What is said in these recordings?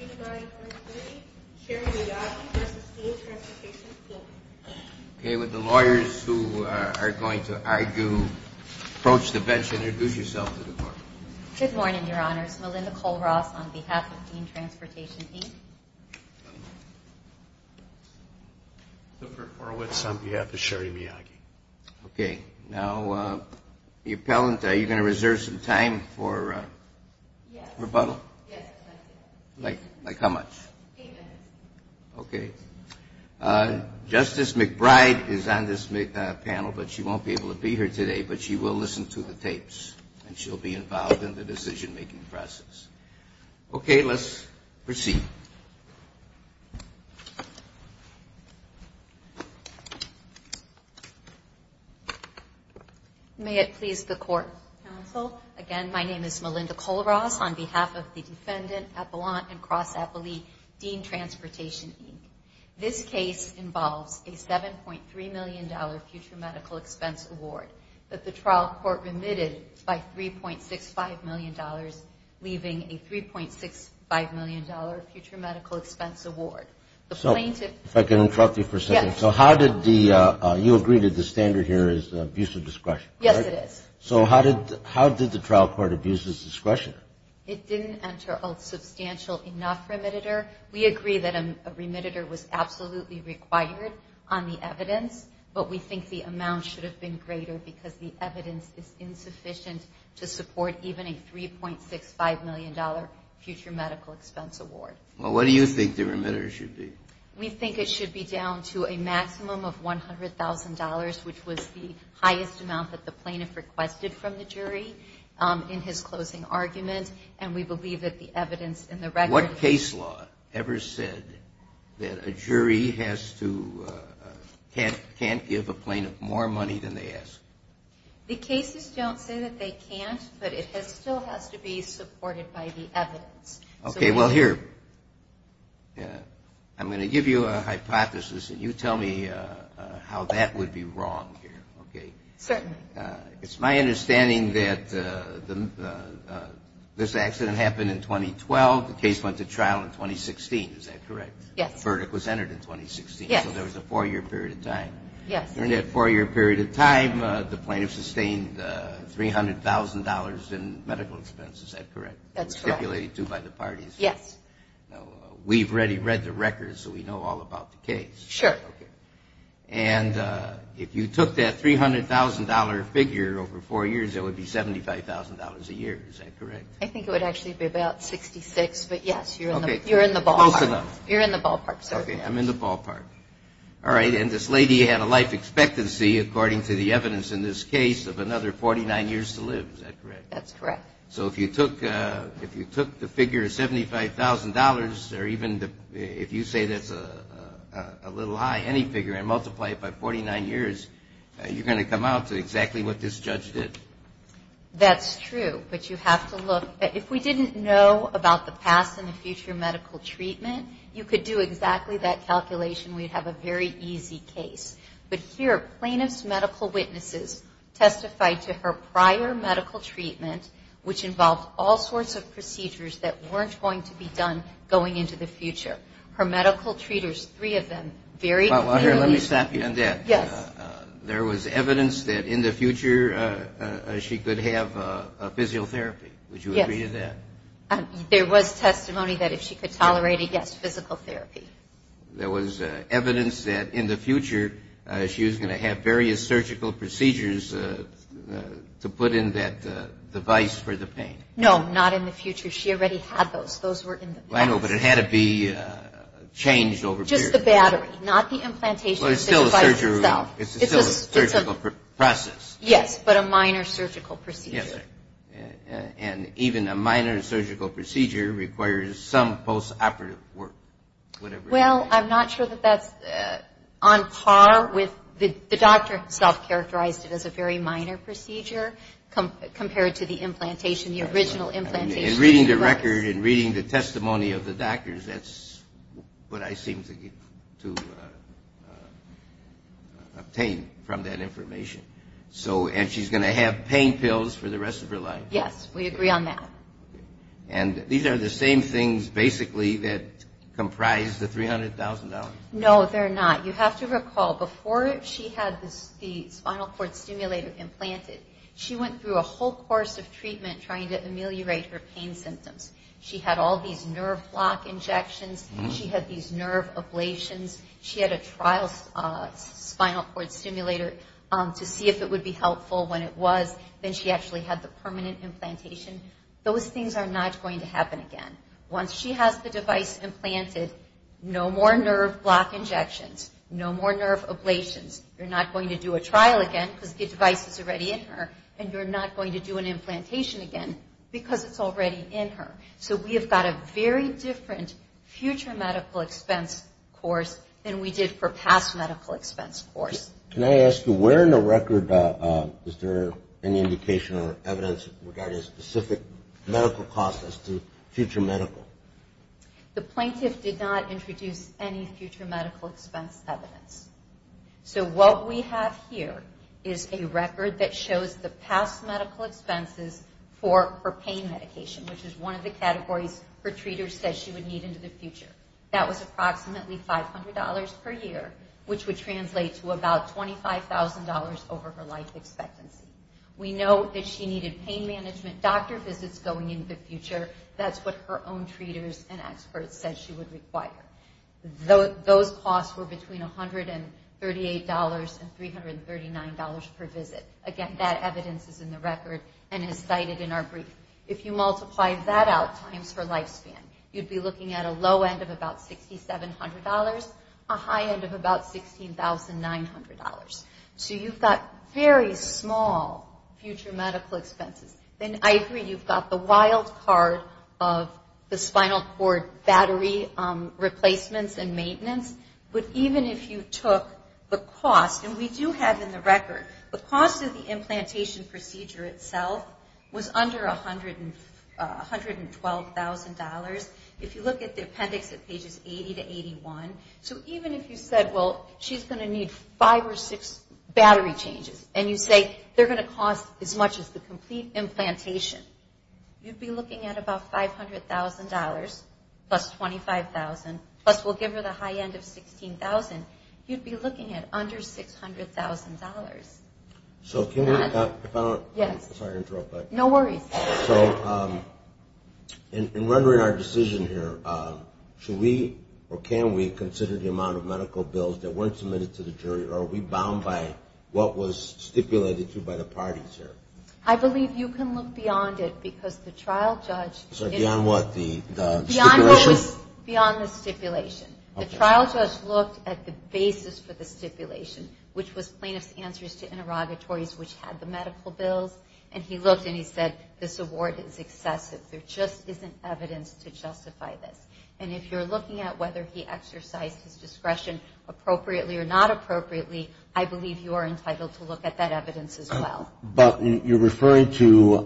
Okay, with the lawyers who are going to argue, approach the bench and introduce yourself to the court. Good morning, Your Honors. Melinda Cole-Ross on behalf of Dean Transportation, Inc. Luca Horowitz on behalf of Sherry Miyagi. Okay. Now, the appellant, are you going to like how much? Eight minutes. Okay. Justice McBride is on this panel, but she won't be able to be here today, but she will listen to the tapes, and she'll be involved in the decision-making process. Okay, let's proceed. May it please the court, counsel. Again, my name is Melinda Cole-Ross on behalf of the defendant, appellant, and Ross Eppley, Dean Transportation, Inc. This case involves a $7.3 million future medical expense award that the trial court remitted by $3.65 million, leaving a $3.65 million future medical expense award. The plaintiff... If I can interrupt you for a second. Yes. So how did the, you agree that the standard here is abuse of discretion. Yes, it is. So how did the trial court abuse his discretion? It didn't enter a substantial enough remitter. We agree that a remitter was absolutely required on the evidence, but we think the amount should have been greater because the evidence is insufficient to support even a $3.65 million future medical expense award. Well, what do you think the remitter should be? We think it should be down to a maximum of $100,000, which was the requirement, and we believe that the evidence in the record... What case law ever said that a jury has to, can't give a plaintiff more money than they ask? The cases don't say that they can't, but it still has to be supported by the evidence. Okay, well here, I'm going to This accident happened in 2012. The case went to trial in 2016. Is that correct? Yes. The verdict was entered in 2016. Yes. So there was a four-year period of time. Yes. During that four-year period of time, the plaintiff sustained $300,000 in medical expense. Is that correct? That's correct. Stipulated too by the parties. Yes. Now, we've already read the records, so we know all about the case. Sure. Okay. And if you took that $300,000 figure over four years, it would be $75,000 a year. Is that correct? I think it would actually be about $66,000, but yes, you're in the ballpark. Close enough. You're in the ballpark, sir. Okay, I'm in the ballpark. All right, and this lady had a life expectancy, according to the evidence in this case, of another 49 years to live. Is that correct? That's correct. So if you took the figure of $75,000, or even if you say that's a little high, any figure, and multiply it by 49 years, you're going to come out to exactly what this judge did. That's true, but you have to look. If we didn't know about the past and the future medical treatment, you could do exactly that calculation. We'd have a very easy case. But here, plaintiff's medical witnesses testified to her prior medical treatment, which involved all sorts of procedures that weren't going to be done going into the future. Her medical treaters, three of them, very clearly... Well, here, let me stop you on that. Yes. There was evidence that in the future, she could have physiotherapy. Would you agree to that? Yes. There was testimony that if she could tolerate it, yes, physical therapy. There was evidence that in the future, she was going to have various surgical procedures to put in that device for the pain. No, not in the future. She already had those. Those were in the past. Well, I know, but it had to be changed over period. Just the battery, not the implantation of the device itself. Well, it's still a surgical process. Yes, but a minor surgical procedure. Yes. And even a minor surgical procedure requires some post-operative work, whatever it is. Well, I'm not sure that that's on par with... The doctor self-characterized it as a very minor procedure compared to the implantation, the original implantation. And reading the record and reading the testimony of the doctors, that's what I seem to obtain from that information. So, and she's going to have pain pills for the rest of her life. Yes, we agree on that. And these are the same things, basically, that comprise the $300,000? No, they're not. You have to recall, before she had the spinal cord stimulator implanted, she went through a whole course of treatment trying to ameliorate her pain symptoms. She had all these nerve block injections. She had these nerve ablations. She had a trial spinal cord stimulator to see if it would be helpful when it was. Then she actually had the permanent implantation. Those things are not going to happen again. Once she has the device implanted, no more nerve block injections, no more nerve ablations. You're not going to do a trial again because the device is already in her. And you're not going to do an implantation again because it's already in her. So we have got a very different future medical expense course than we did for past medical expense course. Can I ask you, where in the record is there any indication or evidence regarding specific medical costs as to future medical? The plaintiff did not introduce any future medical expense evidence. So what we have here is a record that shows the past medical expenses for her pain medication, which is one of the categories her treater said she would need into the future. That was approximately $500 per visit. That's what her own treaters and experts said she would require. Those costs were between $138 and $339 per visit. Again, that evidence is in the record and is cited in our brief. If you multiply that out times her lifespan, you'd be looking at a low end of about $6,700, a high end of about $16,900. So you've got very small future medical expenses. And I agree, you've got the wild card of the spinal cord battery replacements and maintenance. But even if you took the cost, and we do have in the record, the cost of the implantation procedure itself was under $112,000. If you look at the appendix at pages 80 to 81, so even if you said, well, she's going to need five or six battery changes, and you say, they're going to cost as much as the complete implantation, you'd be looking at about $500,000 plus $25,000, plus we'll give her the high end of $16,000. You'd be looking at under $600,000. So in rendering our decision here, should we or can we consider the amount of medical bills that weren't submitted to the jury, or are we bound by what was stipulated to by the parties here? I believe you can look beyond it because the trial judge... Sorry, beyond what? The stipulation? The trial judge looked at the basis for the stipulation, which was plaintiff's answers to interrogatories, which had the medical bills, and he looked and he said, this award is excessive. There just isn't evidence to justify this. And if you're looking at whether he exercised his discretion appropriately or not appropriately, I believe you are entitled to look at that evidence as well. But you're referring to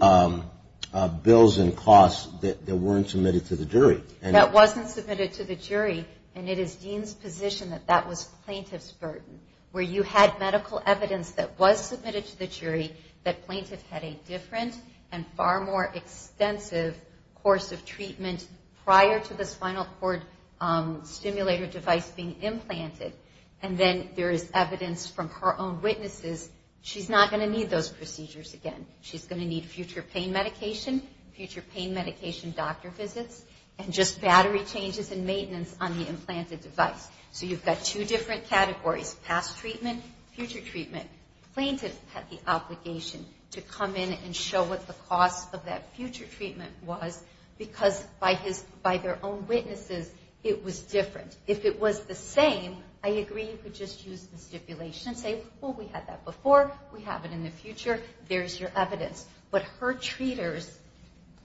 bills and costs that weren't submitted to the jury. That wasn't submitted to the jury, and it is Dean's position that that was plaintiff's burden, where you had medical evidence that was submitted to the jury, that plaintiff had a different and far more extensive course of treatment prior to the spinal cord stimulator device being implanted, and then there is evidence from her own witnesses, she's not going to need those procedures again. She's going to need future pain medication, future pain medication doctor visits, and just battery changes and maintenance on the implanted device. So you've got two different categories, past treatment, future treatment. Plaintiff had the obligation to come in and show what the cost of that future treatment was because by their own witnesses, it was different. If it was the same, I agree you could just use the stipulation and say, well, we had that before, we have it in the future, there's your evidence. But her treaters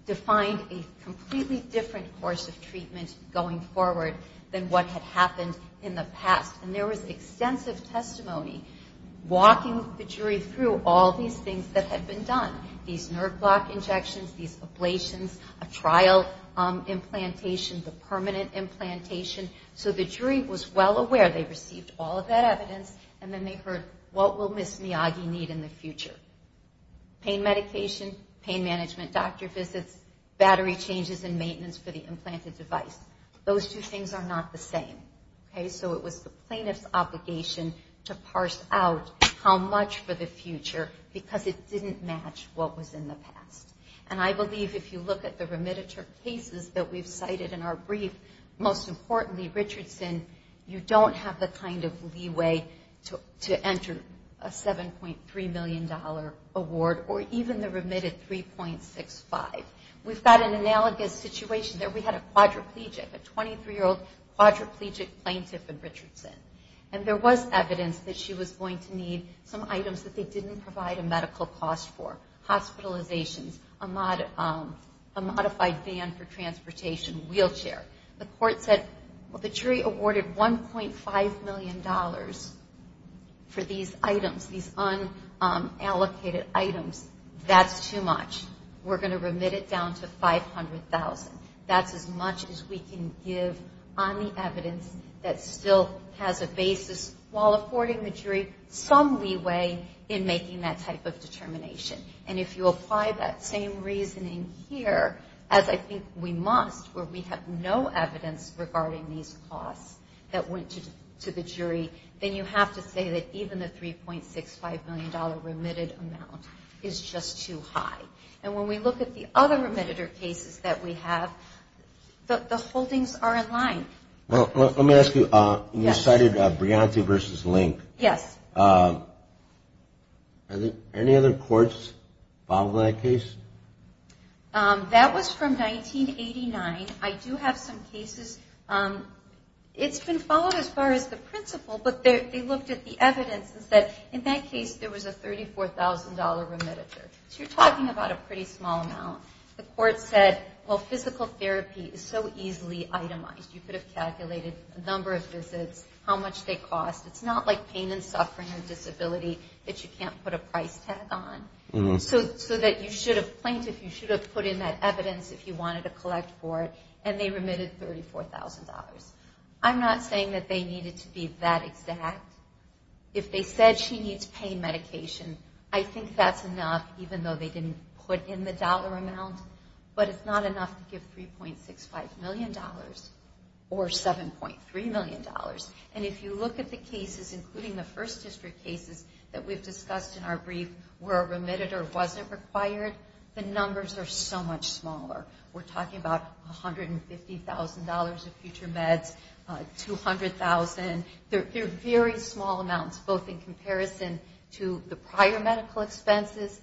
defined a completely different course of treatment going forward than what had happened in the past. And there was extensive testimony walking the jury through all these things that had been done, these nerve block injections, these ablations, a trial implantation, the permanent implantation, so the jury was well aware they received all of that evidence, and then they heard, what will Ms. Miyagi need in the future? Pain medication, pain management doctor visits, battery changes and maintenance for the implanted device. Those two things are not the same. So it was the plaintiff's obligation to parse out how much for the future because it didn't match what was in the past. And I believe if you look at the remittances that we've cited in our brief, most importantly, Richardson, you don't have the kind of leeway to enter a $7.3 million award or even the remitted $3.65. We've got an analogous situation there. We had a quadriplegic, a 23-year-old quadriplegic plaintiff in Richardson, and there was evidence that she was going to need some items that they didn't provide a medical cost for. Hospitalizations, a modified van for transportation, wheelchair. The court said, well, the jury awarded $1.5 million for these items, these unallocated items. That's too much. We're going to remit it down to $500,000. That's as much as we can give on the evidence that still has a basis while affording the jury some leeway in making that type of determination. And if you apply that same reasoning here, as I think we must where we have no evidence regarding these costs that went to the jury, then you have to say that even the $3.65 million remitted amount is just too high. And when we look at the other remitted cases that we have, the holdings are in line. Well, let me ask you, you cited Brianti v. Link. Yes. Are there any other courts following that case? That was from 1989. I do have some cases. It's been followed as far as the principal, but they looked at the evidence and said, in that case, there was a $34,000 remitted. So you're talking about a pretty small amount. The court said, well, physical therapy is so easily itemized. You could have calculated the number of visits, how much they cost. It's not like pain and suffering or disability that you can't put a price tag on. So that you should have plaintiff, you should have put in that evidence if you wanted to collect for it, and they remitted $34,000. I'm not saying that they needed to be that exact. If they said she needs pain medication, I think that's enough, even though they didn't put in the dollar amount. But it's not enough to give $3.65 million or $7.3 million. And if you look at the cases, including the first district cases that we've discussed in our brief, where a remitted or wasn't required, the numbers are so much smaller. We're talking about $150,000 of future meds, $200,000. They're very small amounts, both in comparison to the prior medical expenses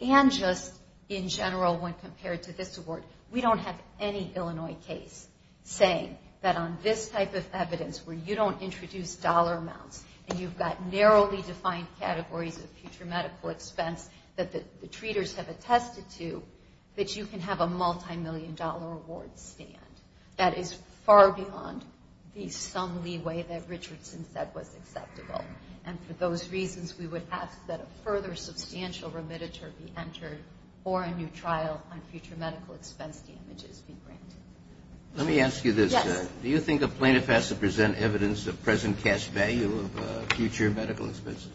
and just in general when compared to this award. We don't have any Illinois case saying that on this type of evidence where you don't introduce dollar amounts and you've got narrowly defined categories of future medical expense that the treaters have attested to, that you can have a multimillion dollar award stand. That is far beyond the sum leeway that Richardson said was acceptable. And for those reasons, we would ask that a further substantial remittiture be entered or a new trial on future medical expense damages be granted. Let me ask you this. Yes. Do you think a plaintiff has to present evidence of present cash value of future medical expenses?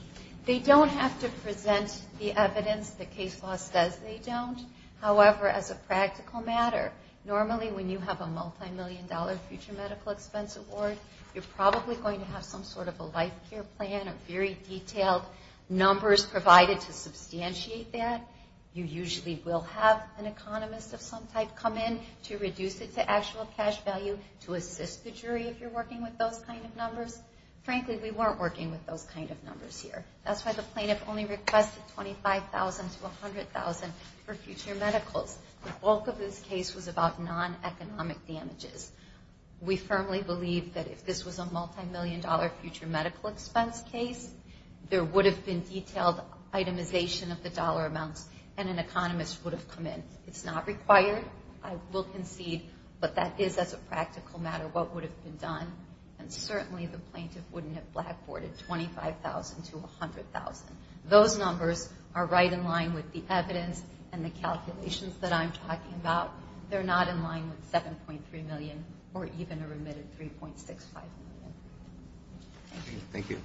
They don't have to present the evidence. The case law says they don't. However, as a practical matter, normally when you have a multimillion dollar future medical expense award, you're probably going to have some sort of a life care plan, a very detailed numbers provided to substantiate that. You usually will have an economist of some type come in to reduce it to actual cash value to assist the jury if you're working with those kind of numbers. Frankly, we weren't working with those kind of numbers here. That's why the plaintiff only requested $25,000 to $100,000 for future medicals. The bulk of this case was about non-economic damages. We firmly believe that if this was a multimillion dollar future medical expense case, there would have been detailed itemization of the dollar amounts, and an economist would have come in. It's not required. I will concede, but that is, as a practical matter, what would have been done. And certainly the plaintiff wouldn't have blackboarded $25,000 to $100,000. Those numbers are right in line with the evidence and the calculations that I'm talking about. They're not in line with $7.3 million or even a remitted $3.65 million. Thank you. Thank you.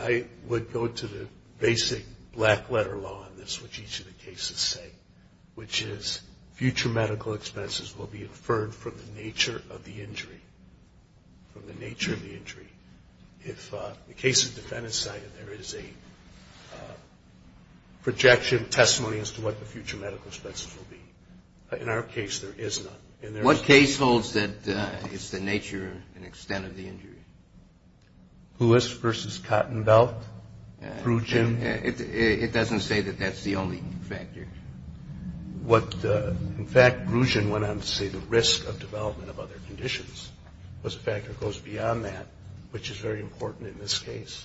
I would go to the basic black letter law in this, which each of the cases say, which is future medical expenses will be inferred from the nature of the injury. From the nature of the injury. If the case is defendant-sided, there is a projection, testimony as to what the future medical expenses will be. In our case, there is none. What case holds that it's the nature and extent of the injury? Lewis v. Cottenbelt. Prugin. It doesn't say that that's the only factor. What, in fact, Prugin went on to say the risk of development of other conditions was a factor that goes beyond that, which is very important in this case.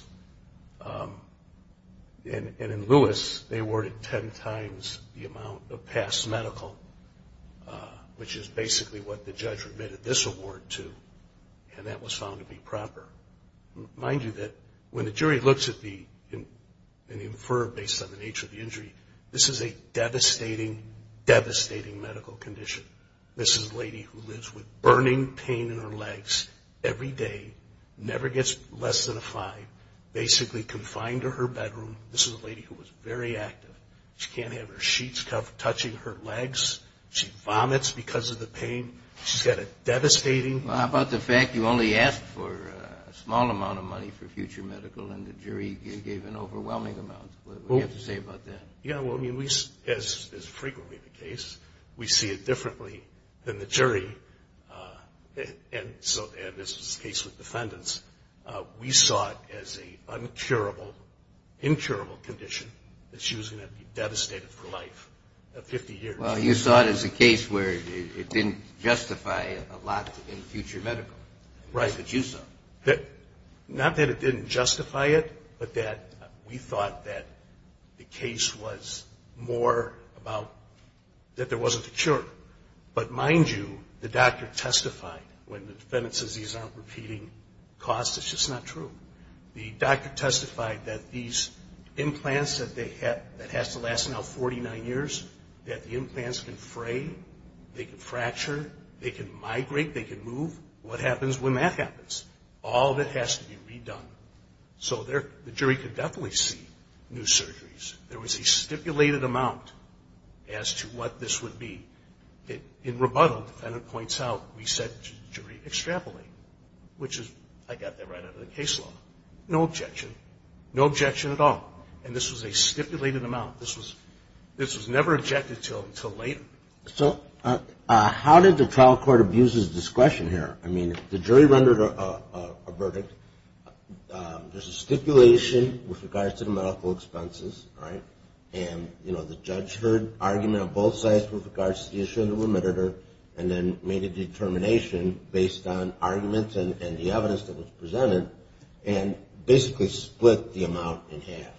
And in Lewis, they awarded ten times the amount of past medical, which is basically what the judge remitted this award to, and that was found to be proper. Mind you that when the jury looks at the inferred based on the nature of the injury, this is a devastating, devastating medical condition. This is a lady who lives with burning pain in her legs every day, never gets less than a five, basically confined to her bedroom. This is a lady who was very active. She can't have her sheets touching her legs. She vomits because of the pain. She's got a devastating. How about the fact you only asked for a small amount of money for future medical and the jury gave an overwhelming amount? What do you have to say about that? Yeah, well, I mean, as is frequently the case, we see it differently than the jury, and this was the case with defendants. We saw it as an incurable condition that she was going to be devastated for life 50 years. Well, you saw it as a case where it didn't justify a lot in future medical. Right. Not that it didn't justify it, but that we thought that the case was more about that there wasn't a cure. But mind you, the doctor testified when the defendant says these aren't repeating costs, it's just not true. The doctor testified that these implants that has to last now 49 years, that the implants can fray, they can fracture, they can migrate, they can move. What happens when that happens? All of it has to be redone. So the jury could definitely see new surgeries. There was a stipulated amount as to what this would be. In rebuttal, the defendant points out, we said the jury extrapolated, which is I got that right out of the case law. No objection. No objection at all. And this was a stipulated amount. This was never objected to until later. So how did the trial court abuse his discretion here? I mean, the jury rendered a verdict. There's a stipulation with regards to the medical expenses, right? And, you know, the judge heard argument on both sides with regards to the issue of the limiter and then made a determination based on arguments and the evidence that was presented and basically split the amount in half.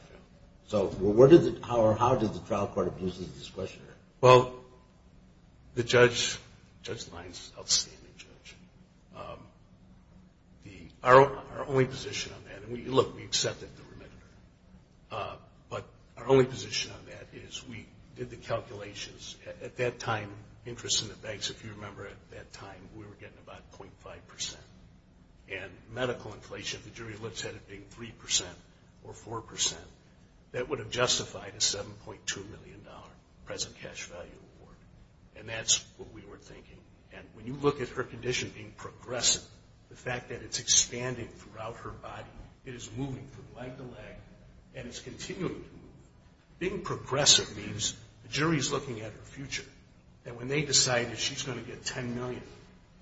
So how did the trial court abuse his discretion? Well, the judge's line is outstanding, Judge. Our only position on that, and, look, we accepted the remitter, but our only position on that is we did the calculations. At that time, interest in the banks, if you remember at that time, we were getting about 0.5%. And medical inflation, the jury looked at it being 3% or 4%. That would have justified a $7.2 million present cash value award. And that's what we were thinking. And when you look at her condition being progressive, the fact that it's expanding throughout her body, it is moving from leg to leg, and it's continuing to move. Being progressive means the jury is looking at her future, and when they decided she's going to get $10 million,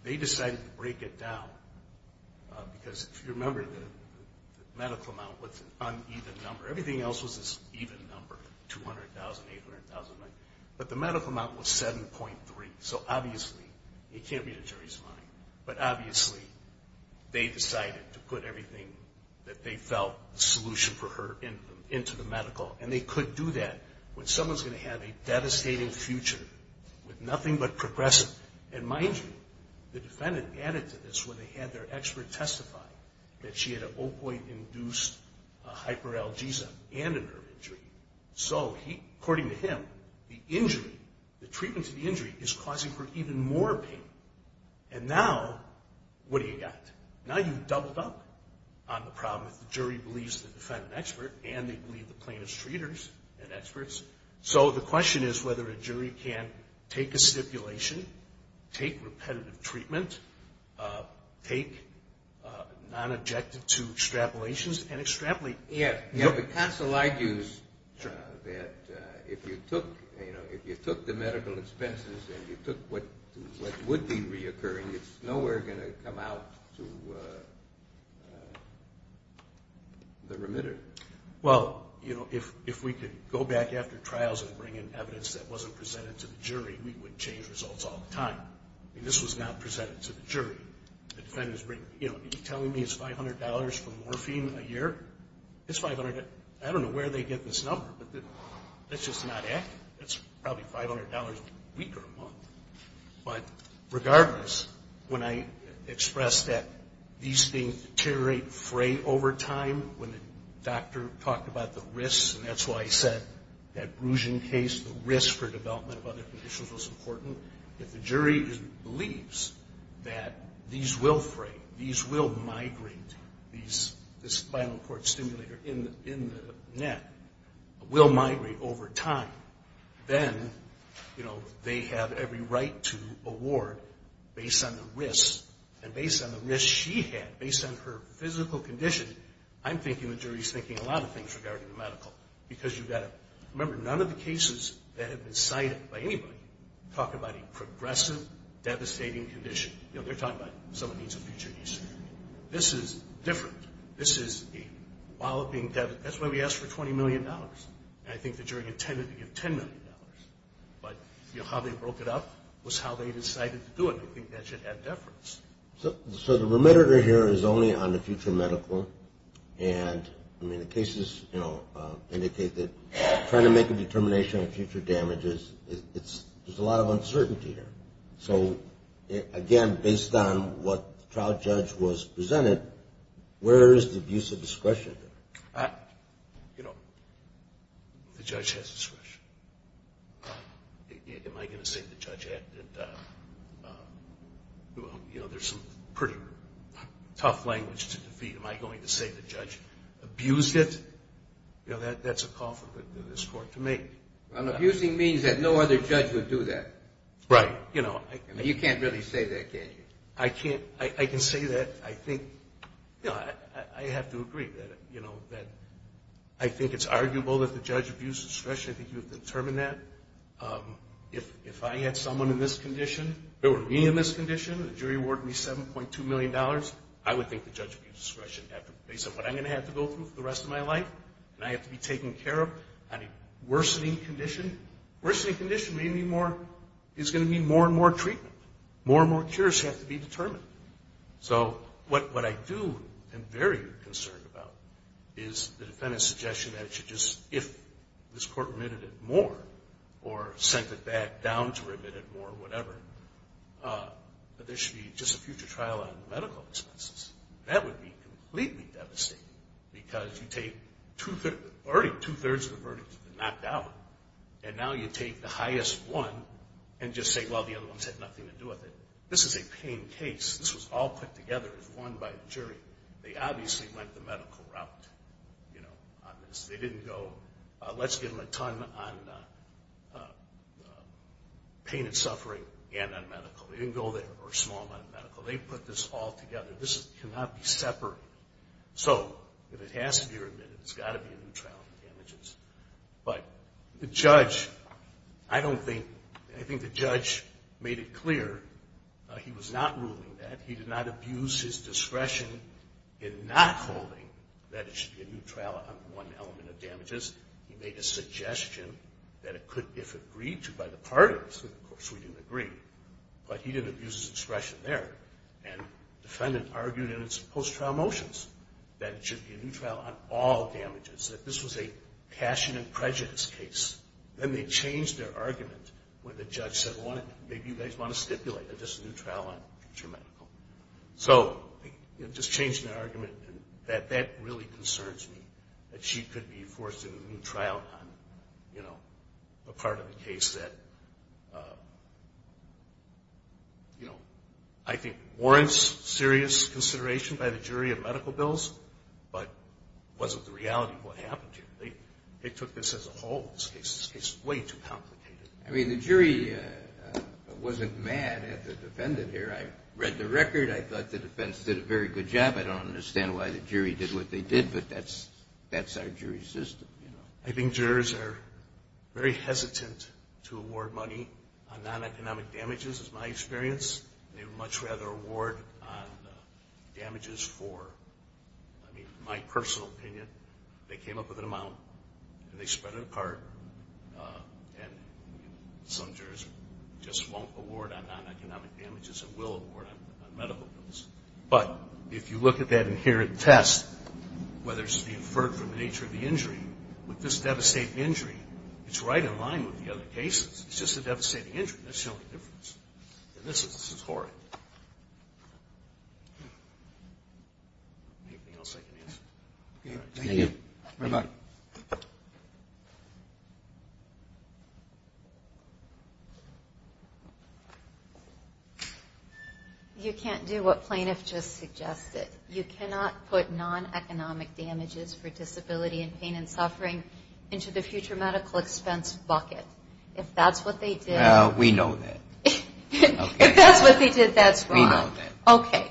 they decided to break it down. Because, if you remember, the medical amount was an uneven number. Everything else was this even number, $200,000, $800,000. But the medical amount was $7.3. So, obviously, it can't be the jury's mind. But, obviously, they decided to put everything that they felt the solution for her into the medical, and they could do that when someone's going to have a devastating future with nothing but progressive. And, mind you, the defendant added to this when they had their expert testify that she had an opioid-induced hyperalgesia and a nerve injury. So, according to him, the injury, the treatment to the injury, is causing her even more pain. And now, what do you got? Now you've doubled up on the problem if the jury believes the defendant expert and they believe the plaintiff's treaters and experts. So the question is whether a jury can take a stipulation, take repetitive treatment, take non-objective-to extrapolations and extrapolate. Yeah, but counsel argues that if you took the medical expenses and you took what would be reoccurring, it's nowhere going to come out to the remitter. Well, if we could go back after trials and bring in evidence that wasn't presented to the jury, we would change results all the time. I mean, this was not presented to the jury. The defendant is telling me it's $500 for morphine a year. It's $500. I don't know where they get this number, but let's just not act. It's probably $500 a week or a month. But regardless, when I expressed that these things deteriorate, fray over time, when the doctor talked about the risks, and that's why I said that Bruggen case, the risk for development of other conditions was important. If the jury believes that these will fray, these will migrate, this spinal cord stimulator in the neck will migrate over time, then they have every right to award based on the risks, and based on the risks she had, based on her physical condition, I'm thinking the jury's thinking a lot of things regarding the medical. Because you've got to remember, none of the cases that have been cited by anybody talk about a progressive, devastating condition. You know, they're talking about someone needs a future ECG. This is different. This is a while of being devastated. That's why we asked for $20 million, and I think the jury intended to give $10 million. But, you know, how they broke it up was how they decided to do it, and I think that should add deference. So the remitter here is only on the future medical, and I mean the cases indicate that trying to make a determination on future damages, there's a lot of uncertainty here. So, again, based on what the trial judge was presented, where is the abuse of discretion? You know, the judge has discretion. Am I going to say the judge acted, you know, there's some pretty tough language to defeat. Am I going to say the judge abused it? You know, that's a call for this court to make. Abusing means that no other judge would do that. Right. You know, you can't really say that, can you? I can say that. I think, you know, I have to agree that, you know, that I think it's arguable that the judge abused discretion. I think you have determined that. If I had someone in this condition or me in this condition, the jury awarded me $7.2 million. I would think the judge abused discretion. Based on what I'm going to have to go through for the rest of my life, and I have to be taken care of on a worsening condition, worsening condition is going to mean more and more treatment. More and more cures have to be determined. So what I do am very concerned about is the defendant's suggestion that it should just, if this court remitted it more or sent it back down to remit it more or whatever, that there should be just a future trial on medical expenses. That would be completely devastating because you take already two-thirds of the verdicts have been knocked out, and now you take the highest one and just say, well, the other ones had nothing to do with it. This is a pain case. This was all put together as one by the jury. They obviously went the medical route, you know, on this. They didn't go, let's give them a ton on pain and suffering and on medical. They didn't go there or a small amount of medical. They put this all together. This cannot be separated. So if it has to be remitted, it's got to be a new trial on damages. But the judge, I don't think, I think the judge made it clear he was not ruling that. He did not abuse his discretion in not holding that it should be a new trial on one element of damages. He made a suggestion that it could, if agreed to by the parties, of course, we didn't agree, but he didn't abuse his discretion there. And the defendant argued in its post-trial motions that it should be a new trial on all damages, that this was a passion and prejudice case. Then they changed their argument when the judge said, well, maybe you guys want to stipulate that this is a new trial on future medical. So they just changed their argument, and that really concerns me, that she could be forced into a new trial on, you know, a part of the case that, you know, I think warrants serious consideration by the jury of medical bills, but wasn't the reality of what happened here. They took this as a whole. This case is way too complicated. I mean, the jury wasn't mad at the defendant here. I read the record. I thought the defense did a very good job. I don't understand why the jury did what they did, but that's our jury system, you know. I think jurors are very hesitant to award money on non-economic damages, is my experience. They would much rather award on damages for, I mean, my personal opinion. They came up with an amount, and they spread it apart, and some jurors just won't award on non-economic damages and will award on medical bills. But if you look at that inherent test, whether it should be inferred from the nature of the injury, with this devastating injury, it's right in line with the other cases. It's just a devastating injury. There's no difference. And this is horrid. Anything else I can answer? Thank you very much. Thank you. You can't do what plaintiff just suggested. You cannot put non-economic damages for disability and pain and suffering into the future medical expense bucket. If that's what they did. We know that. If that's what they did, that's wrong. We know that. Okay.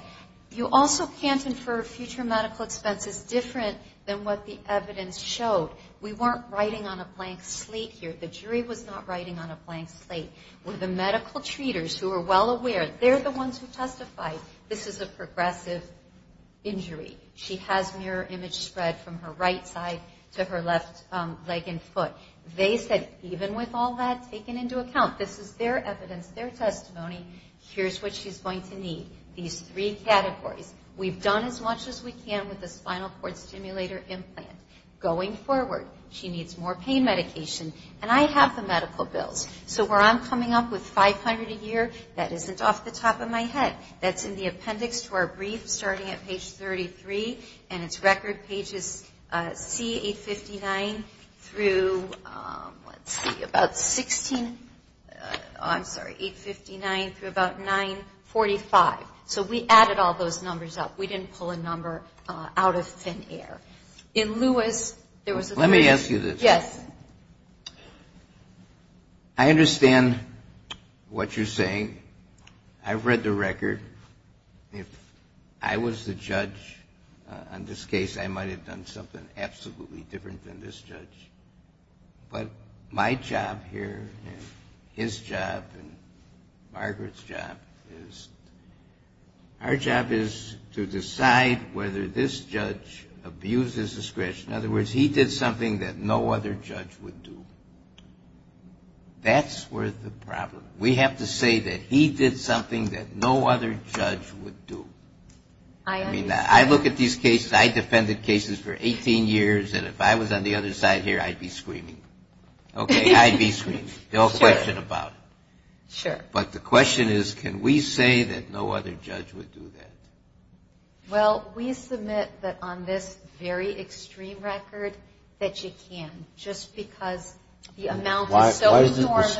You also can't infer future medical expenses different than what the evidence showed. We weren't writing on a blank slate here. The jury was not writing on a blank slate. We're the medical treaters who are well aware. They're the ones who testified this is a progressive injury. She has mirror image spread from her right side to her left leg and foot. They said even with all that taken into account, this is their evidence, their testimony, here's what she's going to need. These three categories. We've done as much as we can with the spinal cord stimulator implant. Going forward, she needs more pain medication. And I have the medical bills. So where I'm coming up with $500 a year, that isn't off the top of my head. That's in the appendix to our brief starting at page 33. And it's record pages C859 through, let's see, about 16, I'm sorry, 859 through about 945. So we added all those numbers up. We didn't pull a number out of thin air. In Lewis, there was a third. Let me ask you this. Yes. I understand what you're saying. I've read the record. If I was the judge on this case, I might have done something absolutely different than this judge. But my job here and his job and Margaret's job is, our job is to decide whether this judge abuses discretion. In other words, he did something that no other judge would do. That's where the problem. We have to say that he did something that no other judge would do. I mean, I look at these cases. I defended cases for 18 years. And if I was on the other side here, I'd be screaming. Okay, I'd be screaming. No question about it. Sure. But the question is, can we say that no other judge would do that? Well, we submit that on this very extreme record that you can, just because the amount is so enormous.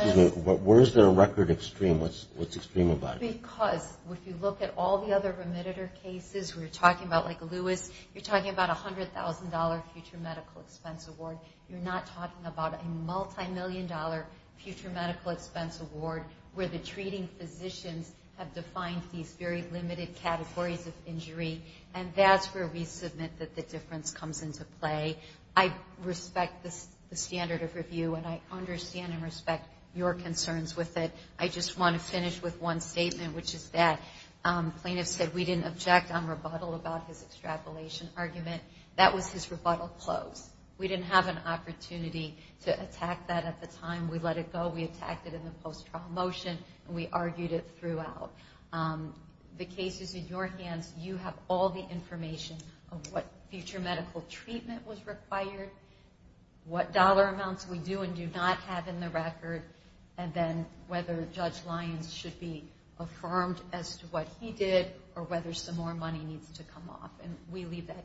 Where is the record extreme? What's extreme about it? Because if you look at all the other remitted cases we're talking about, like Lewis, you're talking about a $100,000 future medical expense award. You're not talking about a multimillion dollar future medical expense award where the treating physicians have defined these very limited categories of injury. And that's where we submit that the difference comes into play. I respect the standard of review, and I understand and respect your concerns with it. I just want to finish with one statement, which is that plaintiffs said we didn't object on rebuttal about his extrapolation argument. That was his rebuttal close. We didn't have an opportunity to attack that at the time. We let it go. We attacked it in the post-trial motion, and we argued it throughout. The cases in your hands, you have all the information of what future medical treatment was required, what dollar amounts we do and do not have in the record, and then whether Judge Lyons should be affirmed as to what he did or whether some more money needs to come off. And we leave that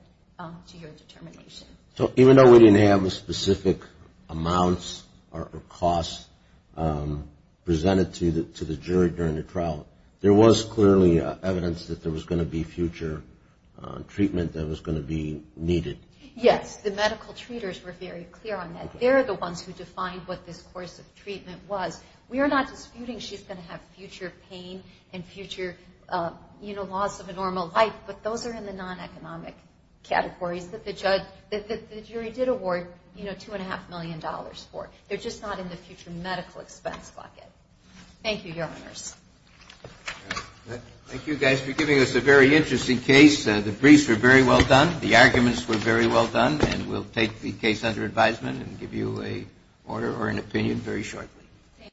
to your determination. So even though we didn't have the specific amounts or costs presented to the jury during the trial, there was clearly evidence that there was going to be future treatment that was going to be needed. Yes. The medical treaters were very clear on that. They're the ones who defined what this course of treatment was. We are not disputing she's going to have future pain and future loss of a normal life, but those are in the non-economic categories that the jury did award $2.5 million for. They're just not in the future medical expense bucket. Thank you, Your Honors. Thank you, guys, for giving us a very interesting case. The briefs were very well done. The arguments were very well done, and we'll take the case under advisement and give you an order or an opinion very shortly.